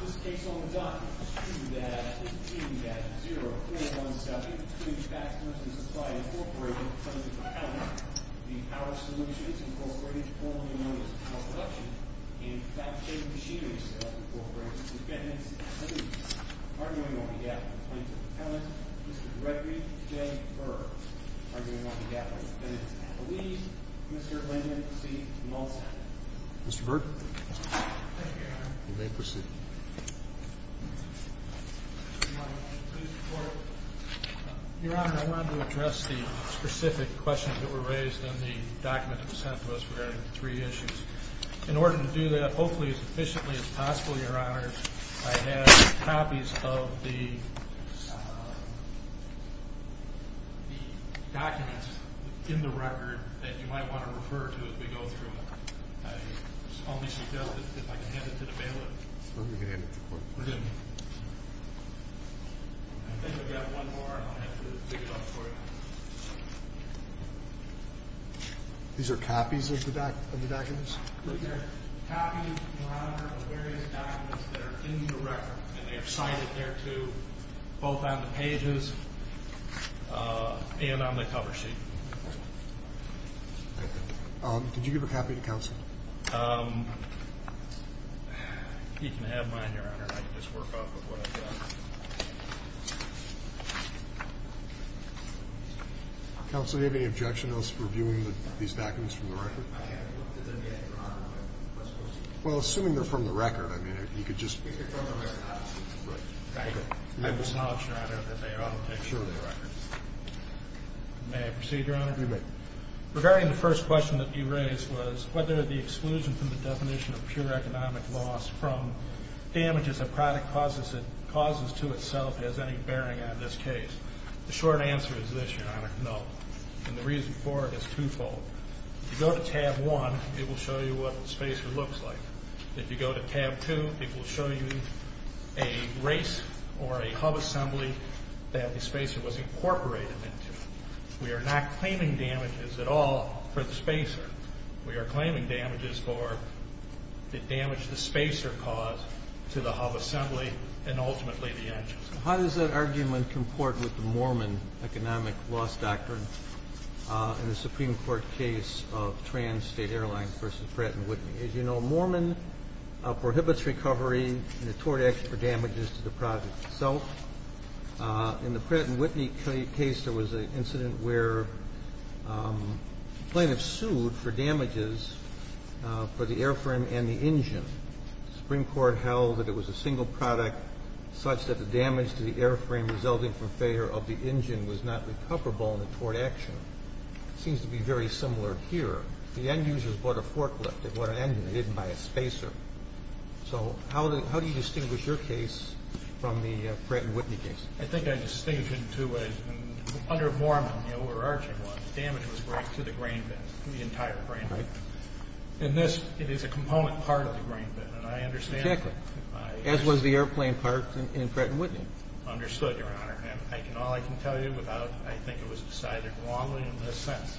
This case on the docket is 2-15-0417, between Fasteners and Supply Incorporated, Plants and Propellants, the Power Solutions Incorporated, All New Motors, Power Production, and Fabrication Machinery Incorporated. Defendants, please. Arguing on behalf of Plants and Propellants, Mr. Gregory J. Burr. Arguing on behalf of Defendants, please. Mr. Langdon, proceed to the mall stand. Mr. Burr. Thank you, Your Honor. You may proceed. Your Honor, I wanted to address the specific questions that were raised in the document that was sent to us regarding the three issues. In order to do that, hopefully as efficiently as possible, Your Honor, I have copies of the documents in the record that you might want to refer to as we go through. If I can hand it to the bailiff. I think we have one more, and I'll have to pick it up for you. These are copies of the documents? They're copies, Your Honor, of the various documents that are in the record, and they are cited there too, both on the pages and on the cover sheet. Thank you. Did you give a copy to counsel? If you can have mine, Your Honor, and I can just work off of what I've got. Counsel, do you have any objection to us reviewing these documents from the record? I have looked at them, Your Honor, but I'm not supposed to. Well, assuming they're from the record, I mean, you could just... They're from the record. Right. Thank you. I just acknowledge, Your Honor, that they are all textual records. May I proceed, Your Honor? You may. Regarding the first question that you raised was whether the exclusion from the definition of pure economic loss from damages a product causes to itself has any bearing on this case. The short answer is this, Your Honor, no. And the reason for it is twofold. If you go to tab one, it will show you what a spacer looks like. If you go to tab two, it will show you a race or a hub assembly that the spacer was incorporated into. We are not claiming damages at all for the spacer. We are claiming damages for the damage the spacer caused to the hub assembly and ultimately the engines. How does that argument comport with the Mormon economic loss doctrine in the Supreme Court case of Trans State Airlines v. Pratt & Whitney? As you know, Mormon prohibits recovery in a tort action for damages to the product itself. In the Pratt & Whitney case, there was an incident where plaintiffs sued for damages for the airframe and the engine. The Supreme Court held that it was a single product such that the damage to the airframe resulting from failure of the engine was not recoverable in a tort action. It seems to be very similar here. The end users bought a forklift. They bought an engine. They didn't buy a spacer. So how do you distinguish your case from the Pratt & Whitney case? I think I distinguish it in two ways. Under Mormon, the overarching one, the damage was great to the grain bin, the entire grain bin. In this, it is a component part of the grain bin. And I understand that. Exactly. As was the airplane part in Pratt & Whitney. Understood, Your Honor. And all I can tell you is I think it was decided wrongly in this sense.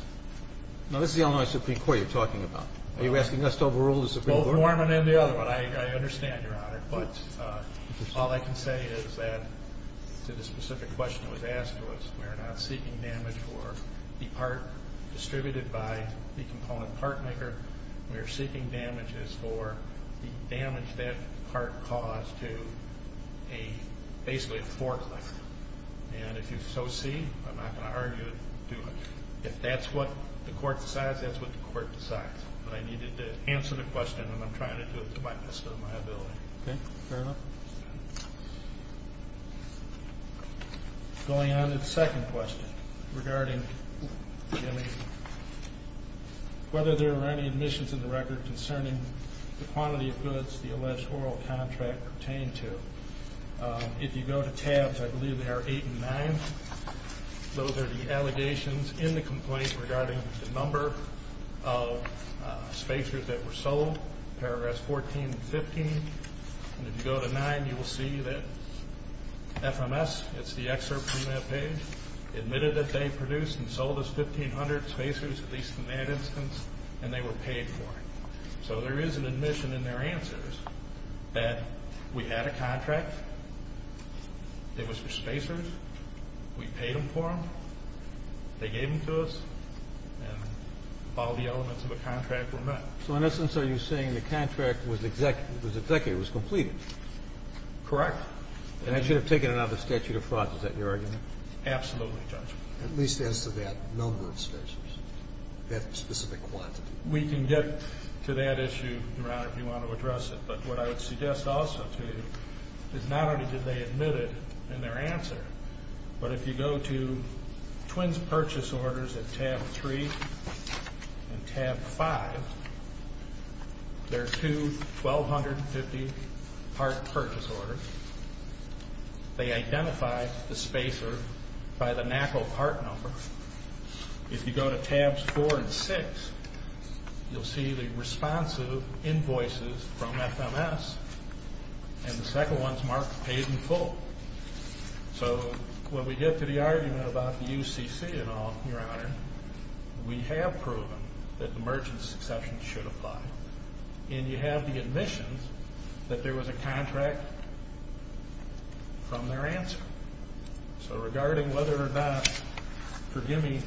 Now, this is the Illinois Supreme Court you're talking about. Are you asking us to overrule the Supreme Court? Both Mormon and the other one. I understand, Your Honor. But all I can say is that to the specific question that was asked to us, we are not seeking damage for the part distributed by the component part maker. We are seeking damages for the damage that part caused to basically a forklift. And if you so see, I'm not going to argue it too much. If that's what the court decides, that's what the court decides. But I needed to answer the question, and I'm trying to do it to the best of my ability. Okay. Fair enough. Going on to the second question regarding whether there are any admissions in the record concerning the quantity of goods the alleged oral contract pertained to. If you go to tabs, I believe they are eight and nine. Those are the allegations in the complaint regarding the number of spacers that were sold. Paragraphs 14 and 15. And if you go to nine, you will see that FMS, it's the excerpt from that page, admitted that they produced and sold us 1,500 spacers, at least in that instance, and they were paid for it. So there is an admission in their answers that we had a contract. It was for spacers. We paid them for them. They gave them to us. And all the elements of the contract were met. So in essence, are you saying the contract was executed, was completed? Correct. And they should have taken it out of the statute of frauds. Is that your argument? Absolutely, Judge. At least as to that number of spacers, that specific quantity. We can get to that issue, Your Honor, if you want to address it. But what I would suggest also to you is not only did they admit it in their answer, but if you go to twins purchase orders at tab three and tab five, there are two 1,250-part purchase orders. They identified the spacer by the NACL part number. If you go to tabs four and six, you'll see the responsive invoices from FMS, and the second one is marked paid in full. So when we get to the argument about the UCC and all, Your Honor, we have proven that the merchant's exception should apply. And you have the admission that there was a contract from their answer. So regarding whether or not, forgive me,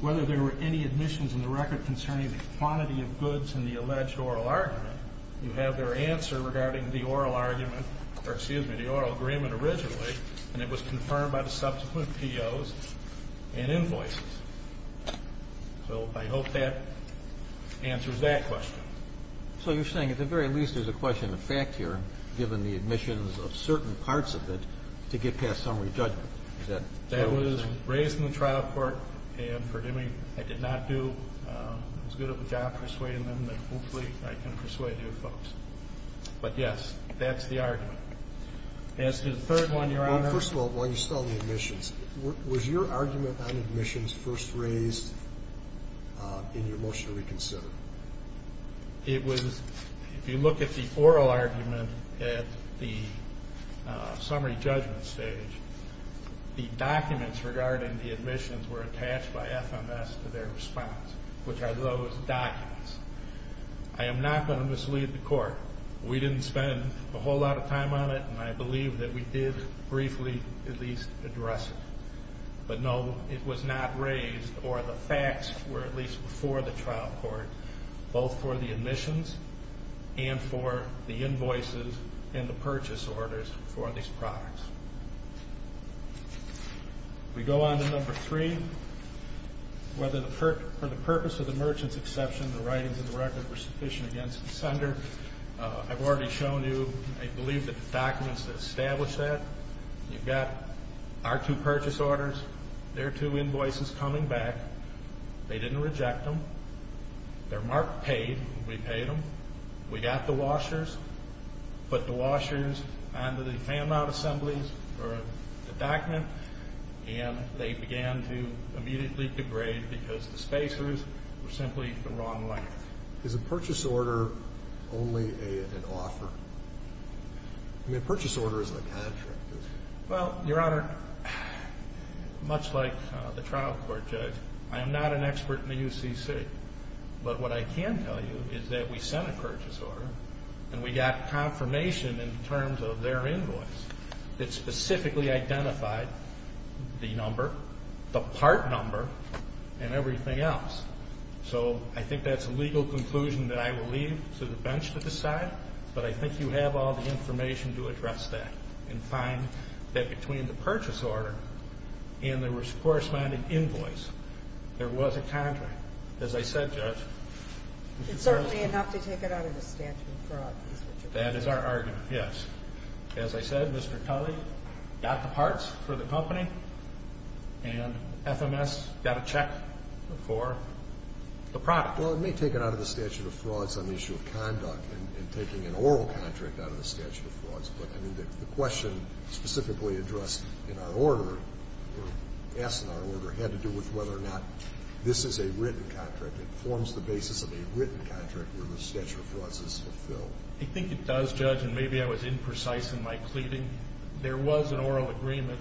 whether there were any admissions in the record concerning the quantity of goods in the alleged oral argument, you have their answer regarding the oral argument, or excuse me, the oral agreement originally, and it was confirmed by the subsequent POs and invoices. So I hope that answers that question. So you're saying at the very least there's a question of fact here, given the admissions of certain parts of it, to get past summary judgment. Is that what you're saying? That was raised in the trial court, and forgive me, I did not do as good of a job persuading them, but hopefully I can persuade you folks. But yes, that's the argument. As to the third one, Your Honor. Well, first of all, while you stall the admissions, was your argument on admissions first raised in your motion to reconsider? It was, if you look at the oral argument at the summary judgment stage, the documents regarding the admissions were attached by FMS to their response, which are those documents. I am not going to mislead the court. We didn't spend a whole lot of time on it, and I believe that we did briefly at least address it. But no, it was not raised, or the facts were at least before the trial court, both for the admissions and for the invoices and the purchase orders for these products. We go on to number three. For the purpose of the merchant's exception, the writings of the record were sufficient against the sender. I've already shown you, I believe, the documents that establish that. You've got our two purchase orders, their two invoices coming back. They didn't reject them. They're marked paid. We paid them. We got the washers, put the washers under the fan mount assemblies for the document, and they began to immediately degrade because the spacers were simply the wrong length. Is a purchase order only an offer? I mean, a purchase order is a contract. Well, Your Honor, much like the trial court judge, I am not an expert in the UCC. But what I can tell you is that we sent a purchase order, and we got confirmation in terms of their invoice. It specifically identified the number, the part number, and everything else. So I think that's a legal conclusion that I will leave to the bench to decide, but I think you have all the information to address that and find that between the purchase order and the corresponding invoice, there was a contract. As I said, Judge, It's certainly enough to take it out of the statute of fraud. That is our argument, yes. As I said, Mr. Culley got the parts for the company, and FMS got a check for the product. Well, it may take it out of the statute of frauds on the issue of conduct and taking an oral contract out of the statute of frauds, but the question specifically addressed in our order, or asked in our order, had to do with whether or not this is a written contract. It forms the basis of a written contract where the statute of frauds is fulfilled. I think it does, Judge, and maybe I was imprecise in my pleading. There was an oral agreement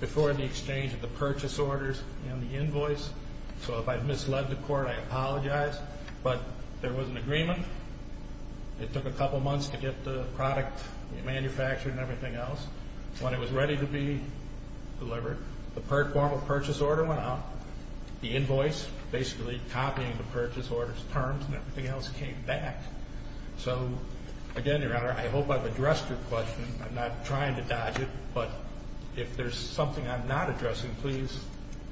before the exchange of the purchase orders and the invoice. So if I've misled the court, I apologize. But there was an agreement. It took a couple months to get the product manufactured and everything else. When it was ready to be delivered, the formal purchase order went out. The invoice, basically copying the purchase order's terms and everything else, came back. So, again, Your Honor, I hope I've addressed your question. I'm not trying to dodge it, but if there's something I'm not addressing, please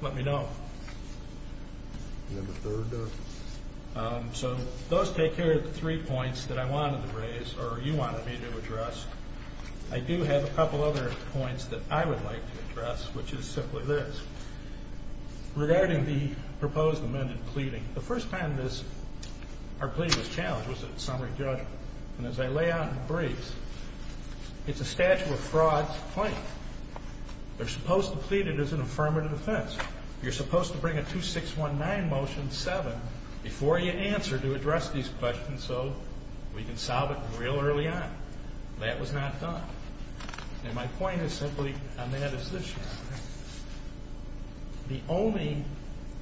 let me know. So those take care of the three points that I wanted to raise, or you wanted me to address. I do have a couple other points that I would like to address, which is simply this. Regarding the proposed amended pleading, the first time our plea was challenged was at summary judgment. And as I lay out in briefs, it's a statute of frauds claim. They're supposed to plead it as an affirmative defense. You're supposed to bring a 2619 motion, 7, before you answer to address these questions so we can solve it real early on. That was not done. And my point is simply on that as this, Your Honor. The only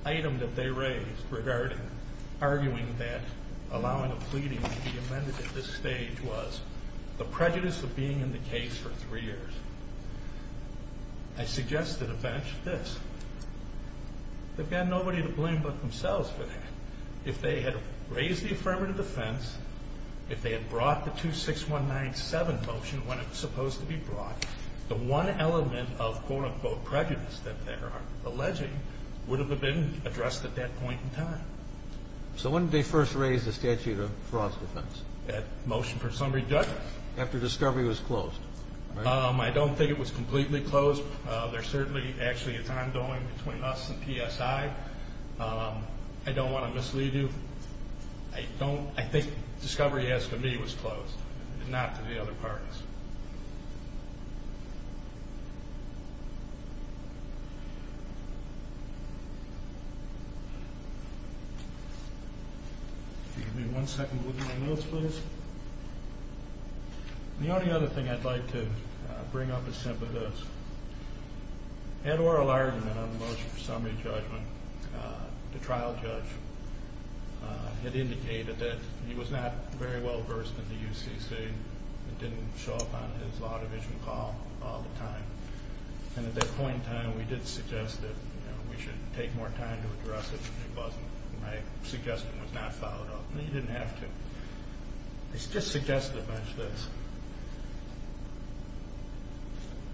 item that they raised regarding arguing that allowing a pleading to be amended at this stage was the prejudice of being in the case for three years. I suggest to the bench this. They've got nobody to blame but themselves for that. If they had raised the affirmative defense, if they had brought the 26197 motion when it was supposed to be brought, the one element of quote-unquote prejudice that they're alleging would have been addressed at that point in time. So when did they first raise the statute of frauds defense? That motion for summary judgment? After discovery was closed. I don't think it was completely closed. There's certainly actually a time going between us and PSI. I don't want to mislead you. I think discovery as to me was closed and not to the other parties. If you give me one second with my notes, please. The only other thing I'd like to bring up is simply this. Ed Orellard in the motion for summary judgment, the trial judge, had indicated that he was not very well versed in the UCC and didn't show up on his law division call all the time. And at that point in time, we did suggest that we should take more time to address it, but my suggestion was not followed up. He didn't have to. He just suggested a bunch of this.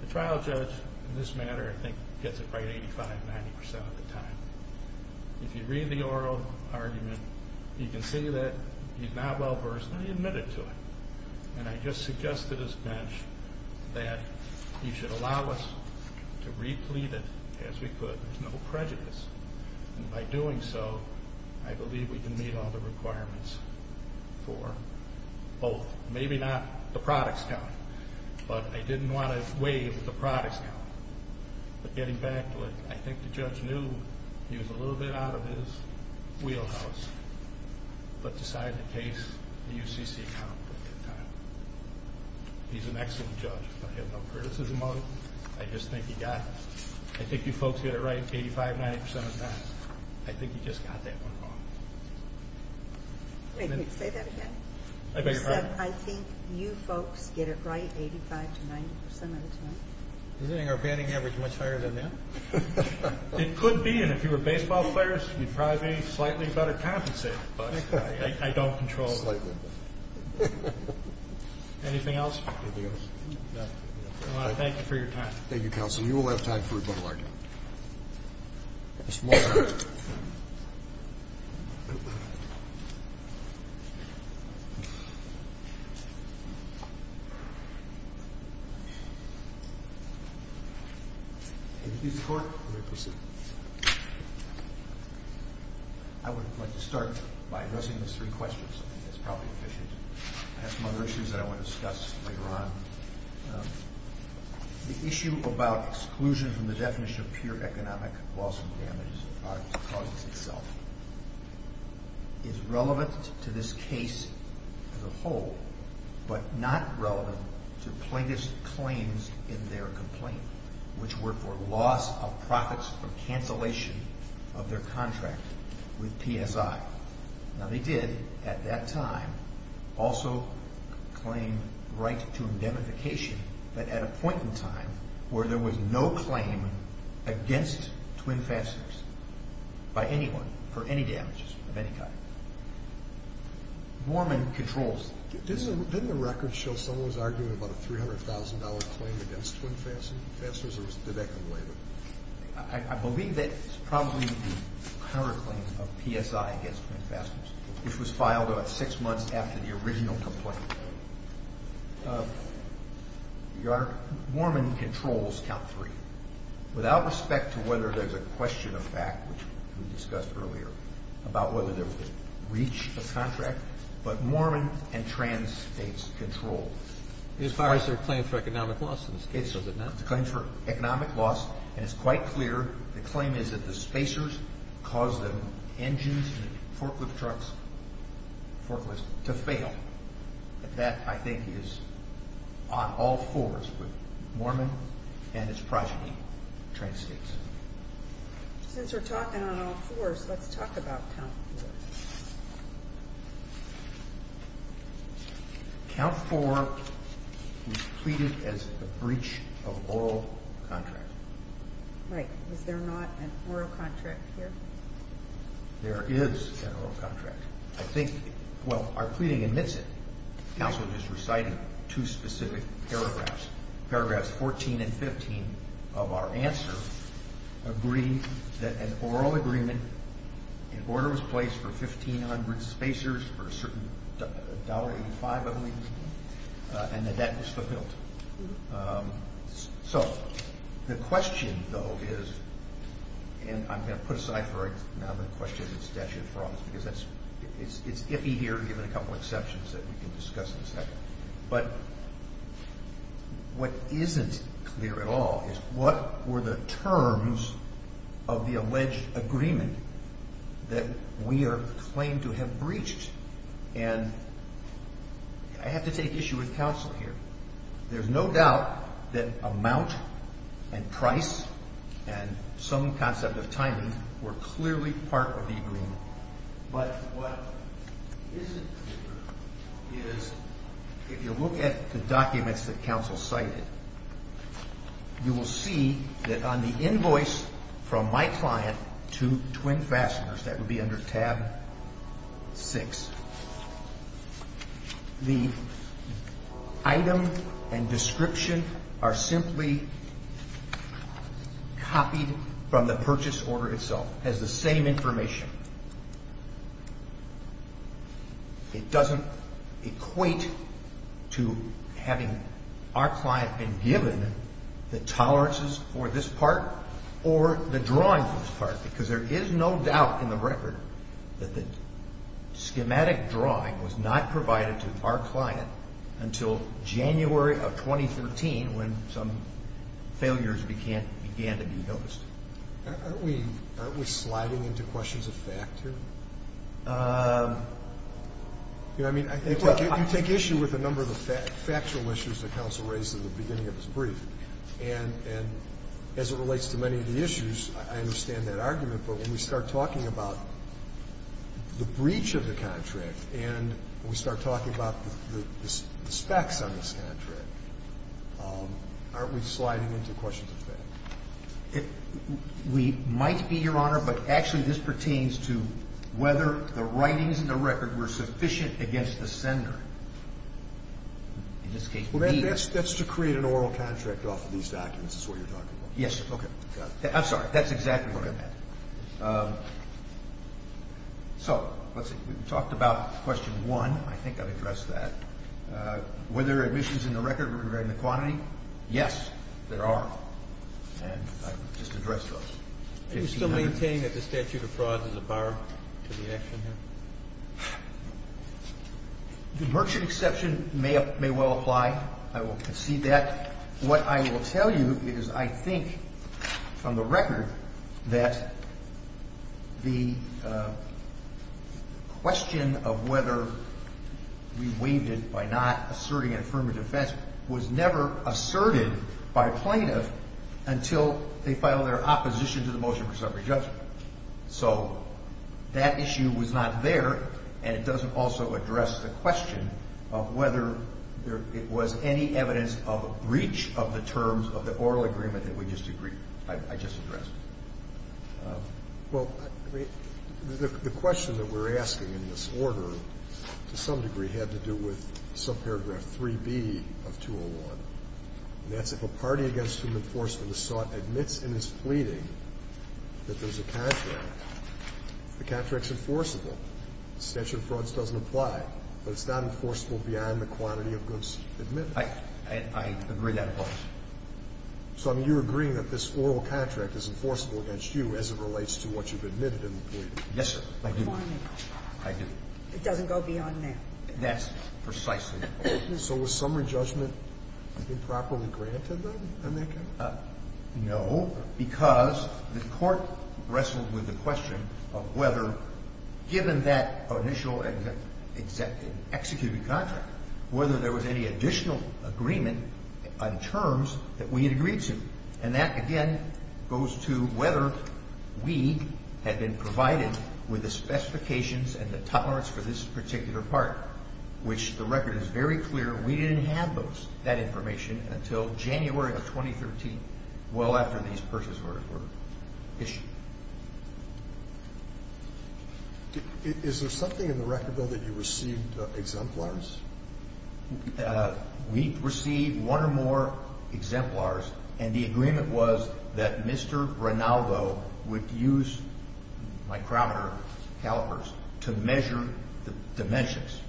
The trial judge in this matter, I think, gets it right 85%, 90% of the time. If you read the oral argument, you can see that he's not well versed, and he admitted to it. And I just suggested as bench that he should allow us to replete it as we could. There's no prejudice. And by doing so, I believe we can meet all the requirements for both. Maybe not the products count, but I didn't want to waive the products count. But getting back to it, I think the judge knew he was a little bit out of his wheelhouse, but decided to case the UCC account at that time. He's an excellent judge. I have no criticism of him. I just think he got it. I think you folks get it right 85%, 90% of the time. I think he just got that one wrong. May I say that again? You said, I think you folks get it right 85% to 90% of the time. Isn't our banning average much higher than that? It could be. And if you were baseball players, you'd probably be slightly better compensated. I don't control it. Anything else? No. I want to thank you for your time. Thank you, counsel. You will have time for rebuttal argument. Mr. Moore. May we please report? May we proceed? I would like to start by addressing these three questions. I think that's probably efficient. I have some other issues that I want to discuss later on. The issue about exclusion from the definition of pure economic loss and damages is relevant to this case as a whole, but not relevant to plaintiffs' claims in their complaint, which were for loss of profits from cancellation of their contract with PSI. Now, they did at that time also claim right to indemnification, but at a point in time where there was no claim against Twin Fasteners by anyone for any damages of any kind. Borman controls. Didn't the record show someone was arguing about a $300,000 claim against Twin Fasteners, or did that come later? I believe that it's probably the current claim of PSI against Twin Fasteners, which was filed about six months after the original complaint. Your Honor, Borman controls count three. Without respect to whether there's a question of fact, which we discussed earlier, about whether there was a breach of contract, but Borman and Tran states control. As far as their claim for economic loss in this case, is it not? It's a claim for economic loss, and it's quite clear. The claim is that the spacers caused the engines in the forklift trucks, the forklifts, to fail. That, I think, is on all fours with Borman and his progeny, Tran states. Since we're talking on all fours, let's talk about count four. Count four was pleaded as a breach of oral contract. Right. Is there not an oral contract here? There is an oral contract. I think, well, our pleading admits it. Counsel just recited two specific paragraphs. Paragraphs 14 and 15 of our answer agree that an oral agreement, an order was placed for 1,500 spacers for a certain $1.85, I believe, and that that was fulfilled. So the question, though, is, and I'm going to put aside for now the question that's dashed in front because it's iffy here, given a couple exceptions that we can discuss in a second. But what isn't clear at all is what were the terms of the alleged agreement that we are claimed to have breached. And I have to take issue with counsel here. There's no doubt that amount and price and some concept of timing were clearly part of the agreement. But what isn't clear is if you look at the documents that counsel cited, you will see that on the invoice from my client to Twin Fasteners, that would be under tab six, the item and description are simply copied from the purchase order itself. It has the same information. It doesn't equate to having our client been given the tolerances for this part or the drawing for this part because there is no doubt in the record that the schematic drawing was not provided to our client until January of 2013 when some failures began to be noticed. Aren't we sliding into questions of fact here? You know, I mean, you take issue with a number of the factual issues that counsel raised at the beginning of his brief. And as it relates to many of the issues, I understand that argument. But when we start talking about the breach of the contract and we start talking about the specs on this contract, aren't we sliding into questions of fact? We might be, Your Honor, but actually this pertains to whether the writings in the record were sufficient against the sender. In this case, B is. That's to create an oral contract off of these documents is what you're talking about. Yes. Okay. I'm sorry. That's exactly what I meant. So let's see. We talked about question one. I think I've addressed that. Were there admissions in the record regarding the quantity? Yes, there are. And I just addressed those. Do you still maintain that the statute of fraud is a bar to the action here? The merchant exception may well apply. I will concede that. What I will tell you is I think from the record that the question of whether we waived it by not asserting an affirmative defense was never asserted by plaintiff until they filed their opposition to the motion for summary judgment. So that issue was not there, and it doesn't also address the question of whether it was any evidence of breach of the terms of the oral agreement that we just agreed. I just addressed it. Well, the question that we're asking in this order to some degree had to do with subparagraph 3B of 201, and that's if a party against whom enforcement is sought admits in its pleading that there's a contract, the contract's enforceable. The statute of frauds doesn't apply, but it's not enforceable beyond the quantity of goods admitted. I agree that. So you're agreeing that this oral contract is enforceable against you as it relates to what you've admitted in the pleading? Yes, sir. I do. I do. It doesn't go beyond that. That's precisely it. So was summary judgment improperly granted then in that case? No, because the court wrestled with the question of whether given that initial executive contract, whether there was any additional agreement on terms that we had agreed to. And that, again, goes to whether we had been provided with the specifications and the tolerance for this particular part, which the record is very clear, we didn't have that information until January of 2013, well after these purses were issued. Is there something in the record, though, that you received exemplars? We received one or more exemplars, and the agreement was that Mr. Ronaldo would use micrometer calipers to measure the dimensions.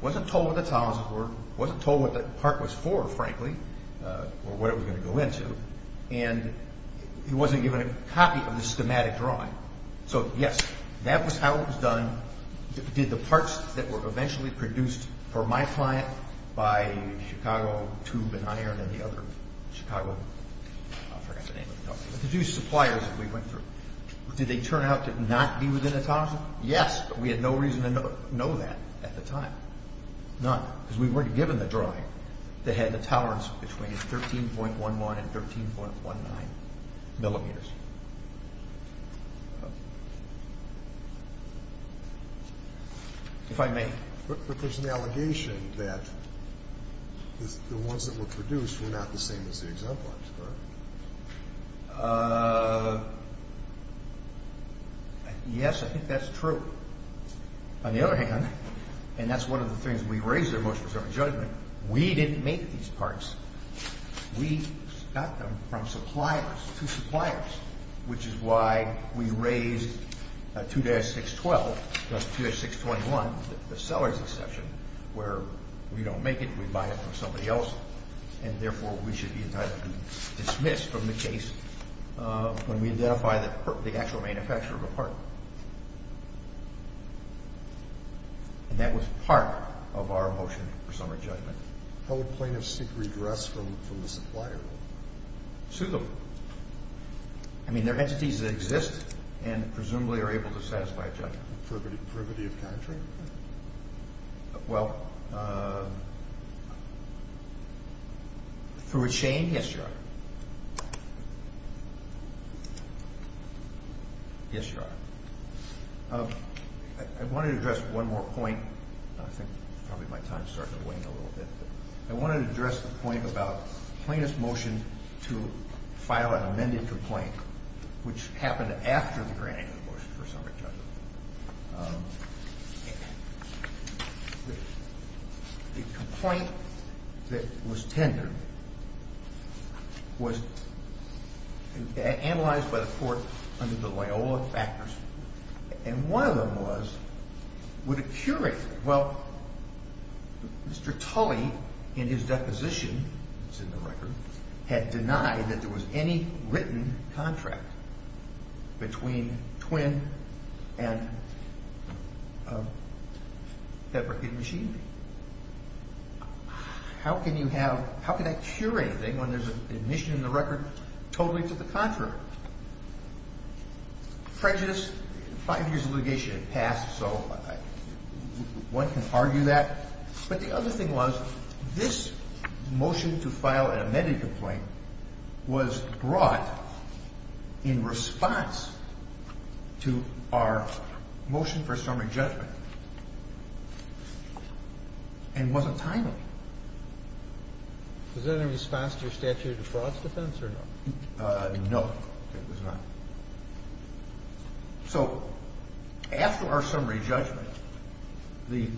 Wasn't told what the tolerances were, wasn't told what the part was for, frankly, or what it was going to go into, and he wasn't given a copy of the schematic drawing. So, yes, that was how it was done. Did the parts that were eventually produced for my client by Chicago Tube & Iron and the other Chicago suppliers that we went through, did they turn out to not be within the tolerance? Yes, but we had no reason to know that at the time, none, because we weren't given the drawing that had the tolerance between 13.11 and 13.19 millimeters. If I may. But there's an allegation that the ones that were produced were not the same as the exemplars, correct? Yes, I think that's true. On the other hand, and that's one of the things we raise in our motion-preserving judgment, we didn't make these parts. We got them from suppliers to suppliers. Which is why we raised 2-612, not 2-621, the seller's exception, where we don't make it, we buy it from somebody else, and therefore we should be entitled to dismiss from the case when we identify the actual manufacturer of the part. And that was part of our motion-preserving judgment. How would plaintiffs seek redress from the supplier? Suitable. I mean, they're entities that exist and presumably are able to satisfy a judgment. Privity of country? Well, through a chain, yes, Your Honor. Yes, Your Honor. I wanted to address one more point. I think probably my time is starting to wane a little bit. I wanted to address the point about plaintiff's motion to file an amended complaint, which happened after the granting of the motion for summary judgment. The complaint that was tendered was analyzed by the court under the Loyola factors, and one of them was, would it curate? Well, Mr. Tully, in his deposition, it's in the record, had denied that there was any written contract between Twin and that record machine. How can you have, how can that curate anything when there's an admission in the record totally to the contract? Prejudice, five years of litigation had passed, so one can argue that. But the other thing was, this motion to file an amended complaint was brought in response to our motion for summary judgment and wasn't timely. Was that in response to your statute of frauds defense or no? No, it was not. So, after our summary judgment, the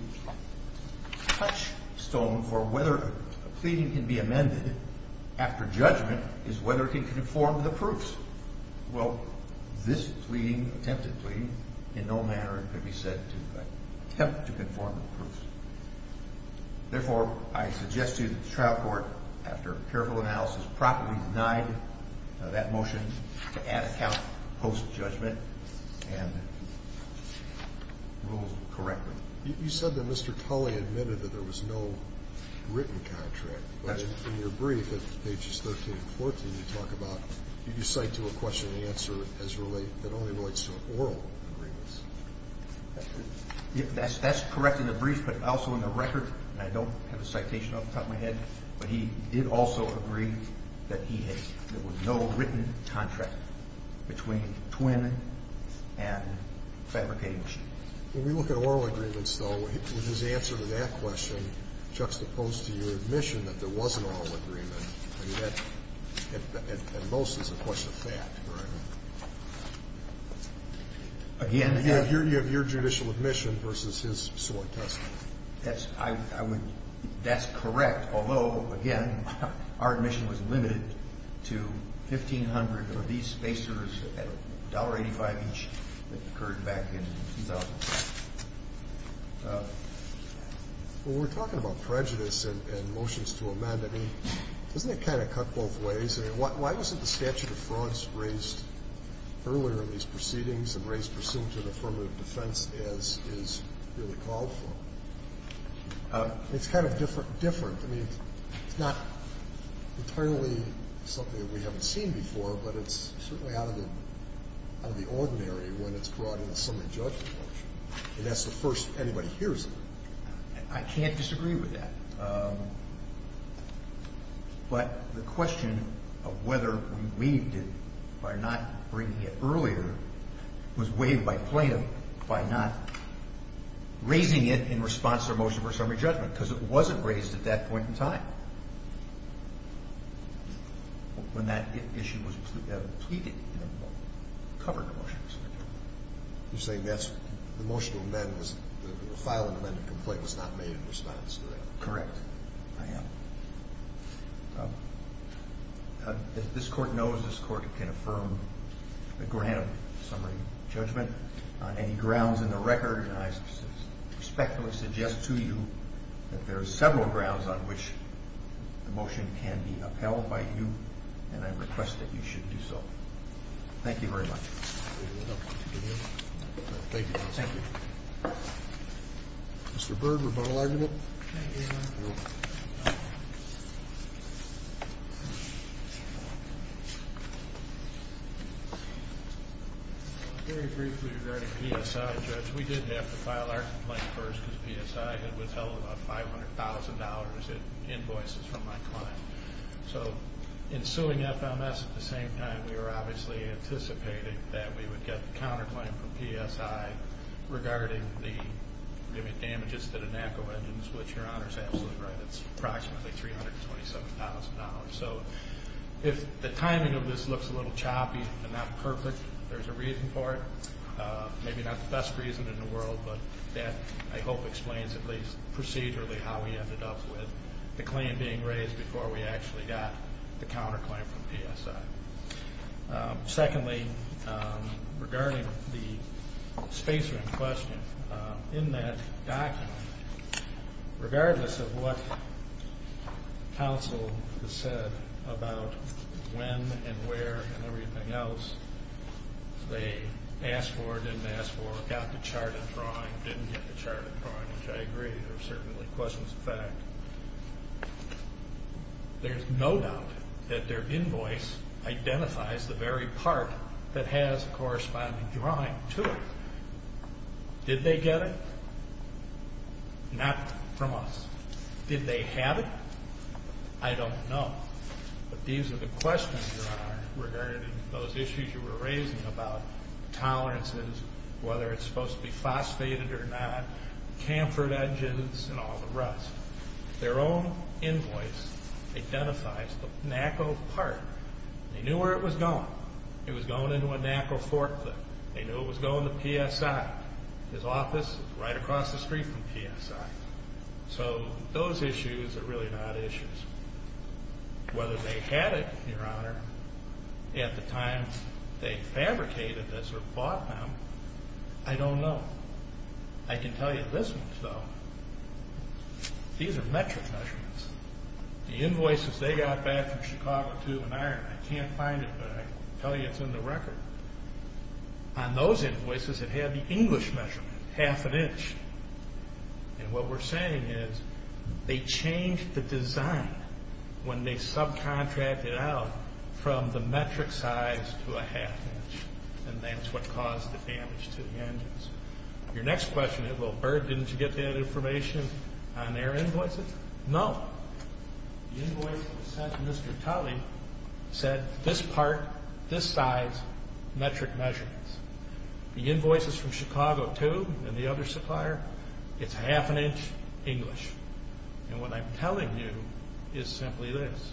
touchstone for whether a pleading can be amended after judgment is whether it can conform to the proofs. Well, this pleading, attempted pleading, in no manner could be said to attempt to conform to the proofs. Therefore, I suggest to you that the trial court, after careful analysis, properly denied that motion to add a count post-judgment and rule correctly. You said that Mr. Culley admitted that there was no written contract. That's correct. But in your brief at pages 13 and 14, you talk about you cite to a question and answer that only relates to oral agreements. That's correct in the brief, but also in the record. I don't have a citation off the top of my head, but he did also agree that there was no written contract between Twin and Fabricated Machine. When we look at oral agreements, though, his answer to that question, juxtaposed to your admission that there was an oral agreement, I mean, that at most is a question of fact. Again, you have your judicial admission versus his sworn testimony. That's correct, although, again, our admission was limited to $1,500 of these spacers at $1.85 each that occurred back in 2006. When we're talking about prejudice and motions to amend, doesn't it kind of cut both ways? Why wasn't the statute of frauds raised earlier in these proceedings and raised pursuant to an affirmative defense as is really called for? It's kind of different. I mean, it's not entirely something that we haven't seen before, but it's certainly out of the ordinary when it's brought into some of the judgmental action. And that's the first anybody hears of it. I can't disagree with that. But the question of whether we waived it by not bringing it earlier was waived by plaintiff by not raising it in response to a motion for a summary judgment because it wasn't raised at that point in time when that issue was pleaded in a covered motion. You're saying the motion to amend was not made in response to that? Correct. I am. This Court knows this Court can affirm a grand summary judgment. On any grounds in the record, I respectfully suggest to you that there are several grounds on which the motion can be upheld by you, and I request that you should do so. Thank you very much. Thank you. Thank you. Mr. Byrd, rebuttal argument? Thank you, Your Honor. Very briefly regarding PSI, Judge, we did have to file our complaint first because PSI had withheld about $500,000 in invoices from my client. So in suing FMS at the same time, we were obviously anticipating that we would get the counterclaim from PSI regarding the damages to the NACO engines, which Your Honor is absolutely right, it's approximately $327,000. So if the timing of this looks a little choppy and not perfect, there's a reason for it. Maybe not the best reason in the world, but that I hope explains at least procedurally how we ended up with the claim being raised before we actually got the counterclaim from PSI. Secondly, regarding the spacer in question, in that document, regardless of what counsel has said about when and where and everything else they asked for, didn't ask for, got the chart and drawing, didn't get the chart and drawing, which I agree, there are certainly questions of fact, there's no doubt that their invoice identifies the very part that has a corresponding drawing to it. Did they get it? Not from us. Did they have it? I don't know. But these are the questions, Your Honor, regarding those issues you were raising about tolerances, whether it's supposed to be phosphated or not, camfered edges and all the rest. Their own invoice identifies the NACO part. They knew where it was going. It was going into a NACO forklift. They knew it was going to PSI. His office is right across the street from PSI. So those issues are really not issues. Whether they had it, Your Honor, at the time they fabricated this or bought them, I don't know. I can tell you this much, though. These are metric measurements. The invoices they got back from Chicago Tube and Iron, I can't find it, but I can tell you it's in the record. On those invoices, it had the English measurement, half an inch. And what we're saying is they changed the design when they subcontracted out from the metric size to a half inch, and that's what caused the damage to the engines. Your next question is, well, Bird, didn't you get that information on their invoices? No. The invoice that was sent to Mr. Tully said this part, this size, metric measurements. The invoices from Chicago Tube and the other supplier, it's half an inch English. And what I'm telling you is simply this.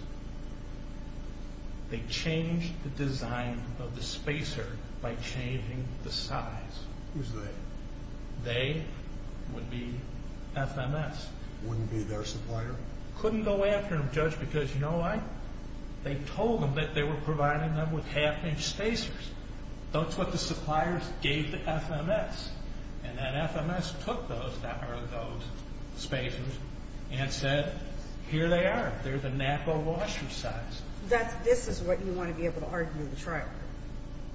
They changed the design of the spacer by changing the size. Who's they? They would be FMS. Wouldn't be their supplier? Couldn't go after them, Judge, because you know why? They told them that they were providing them with half-inch spacers. That's what the suppliers gave to FMS. And then FMS took those spacers and said, here they are. They're the NAPO washer size. This is what you want to be able to argue to the trial court.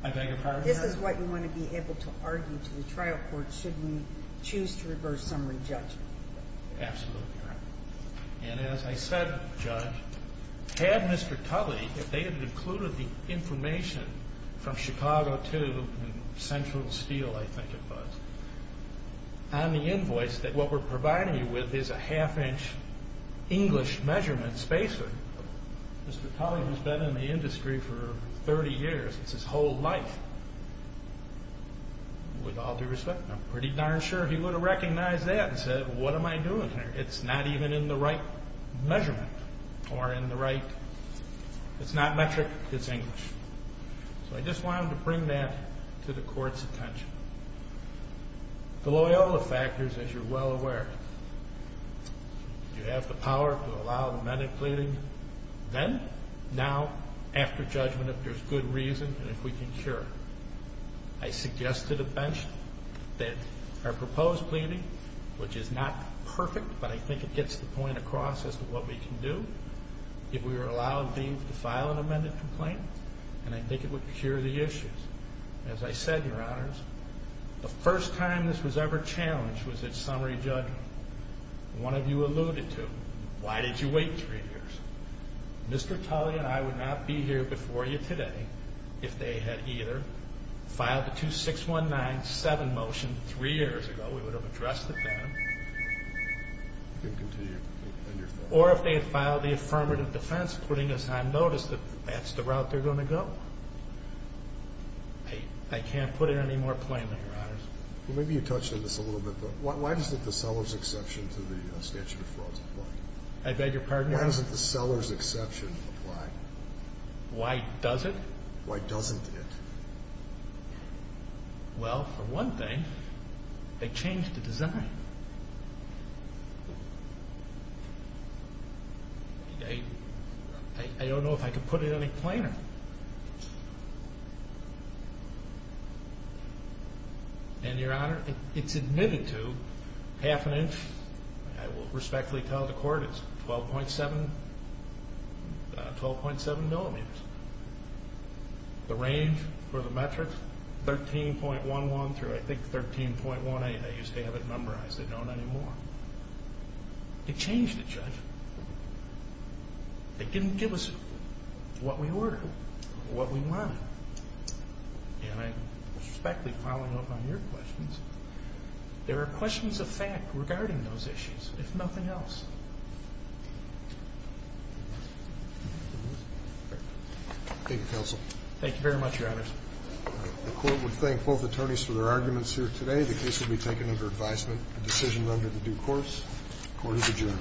I beg your pardon? This is what you want to be able to argue to the trial court should we choose to reverse summary judgment. Absolutely right. And as I said, Judge, had Mr. Tully, if they had included the information from Chicago Tube and Central Steel, I think it was, on the invoice that what we're providing you with is a half-inch English measurement spacer. Mr. Tully has been in the industry for 30 years. It's his whole life. With all due respect, I'm pretty darn sure he would have recognized that and said, what am I doing here? It's not even in the right measurement or in the right, it's not metric, it's English. So I just wanted to bring that to the court's attention. The Loyola factors, as you're well aware. You have the power to allow amended pleading. Then, now, after judgment, if there's good reason and if we can cure it. I suggested at bench that our proposed pleading, which is not perfect, but I think it gets the point across as to what we can do, if we were allowed to file an amended complaint, and I think it would cure the issues. As I said, Your Honors, the first time this was ever challenged was at summary judgment. One of you alluded to, why did you wait three years? Mr. Tully and I would not be here before you today if they had either filed the 26197 motion three years ago, we would have addressed it then, or if they had filed the affirmative defense pleading, I noticed that that's the route they're going to go. I can't put it any more plainly, Your Honors. Well, maybe you touched on this a little bit, but why doesn't the seller's exception to the statute of frauds apply? I beg your pardon? Why doesn't the seller's exception apply? Why does it? Why doesn't it? Well, for one thing, they changed the design. I don't know if I can put it any plainer. And, Your Honor, it's admitted to half an inch. I will respectfully tell the court it's 12.7 millimeters. The range for the metric, 13.11 through, I think, 13.18. They used to have it numberized. They don't anymore. They changed it, Judge. They didn't give us what we ordered, what we wanted. And I respectfully follow up on your questions. There are questions of fact regarding those issues, if nothing else. Thank you, counsel. Thank you very much, Your Honors. The court would thank both attorneys for their arguments here today. The case will be taken under advisement. The decision is under the due course. Court is adjourned.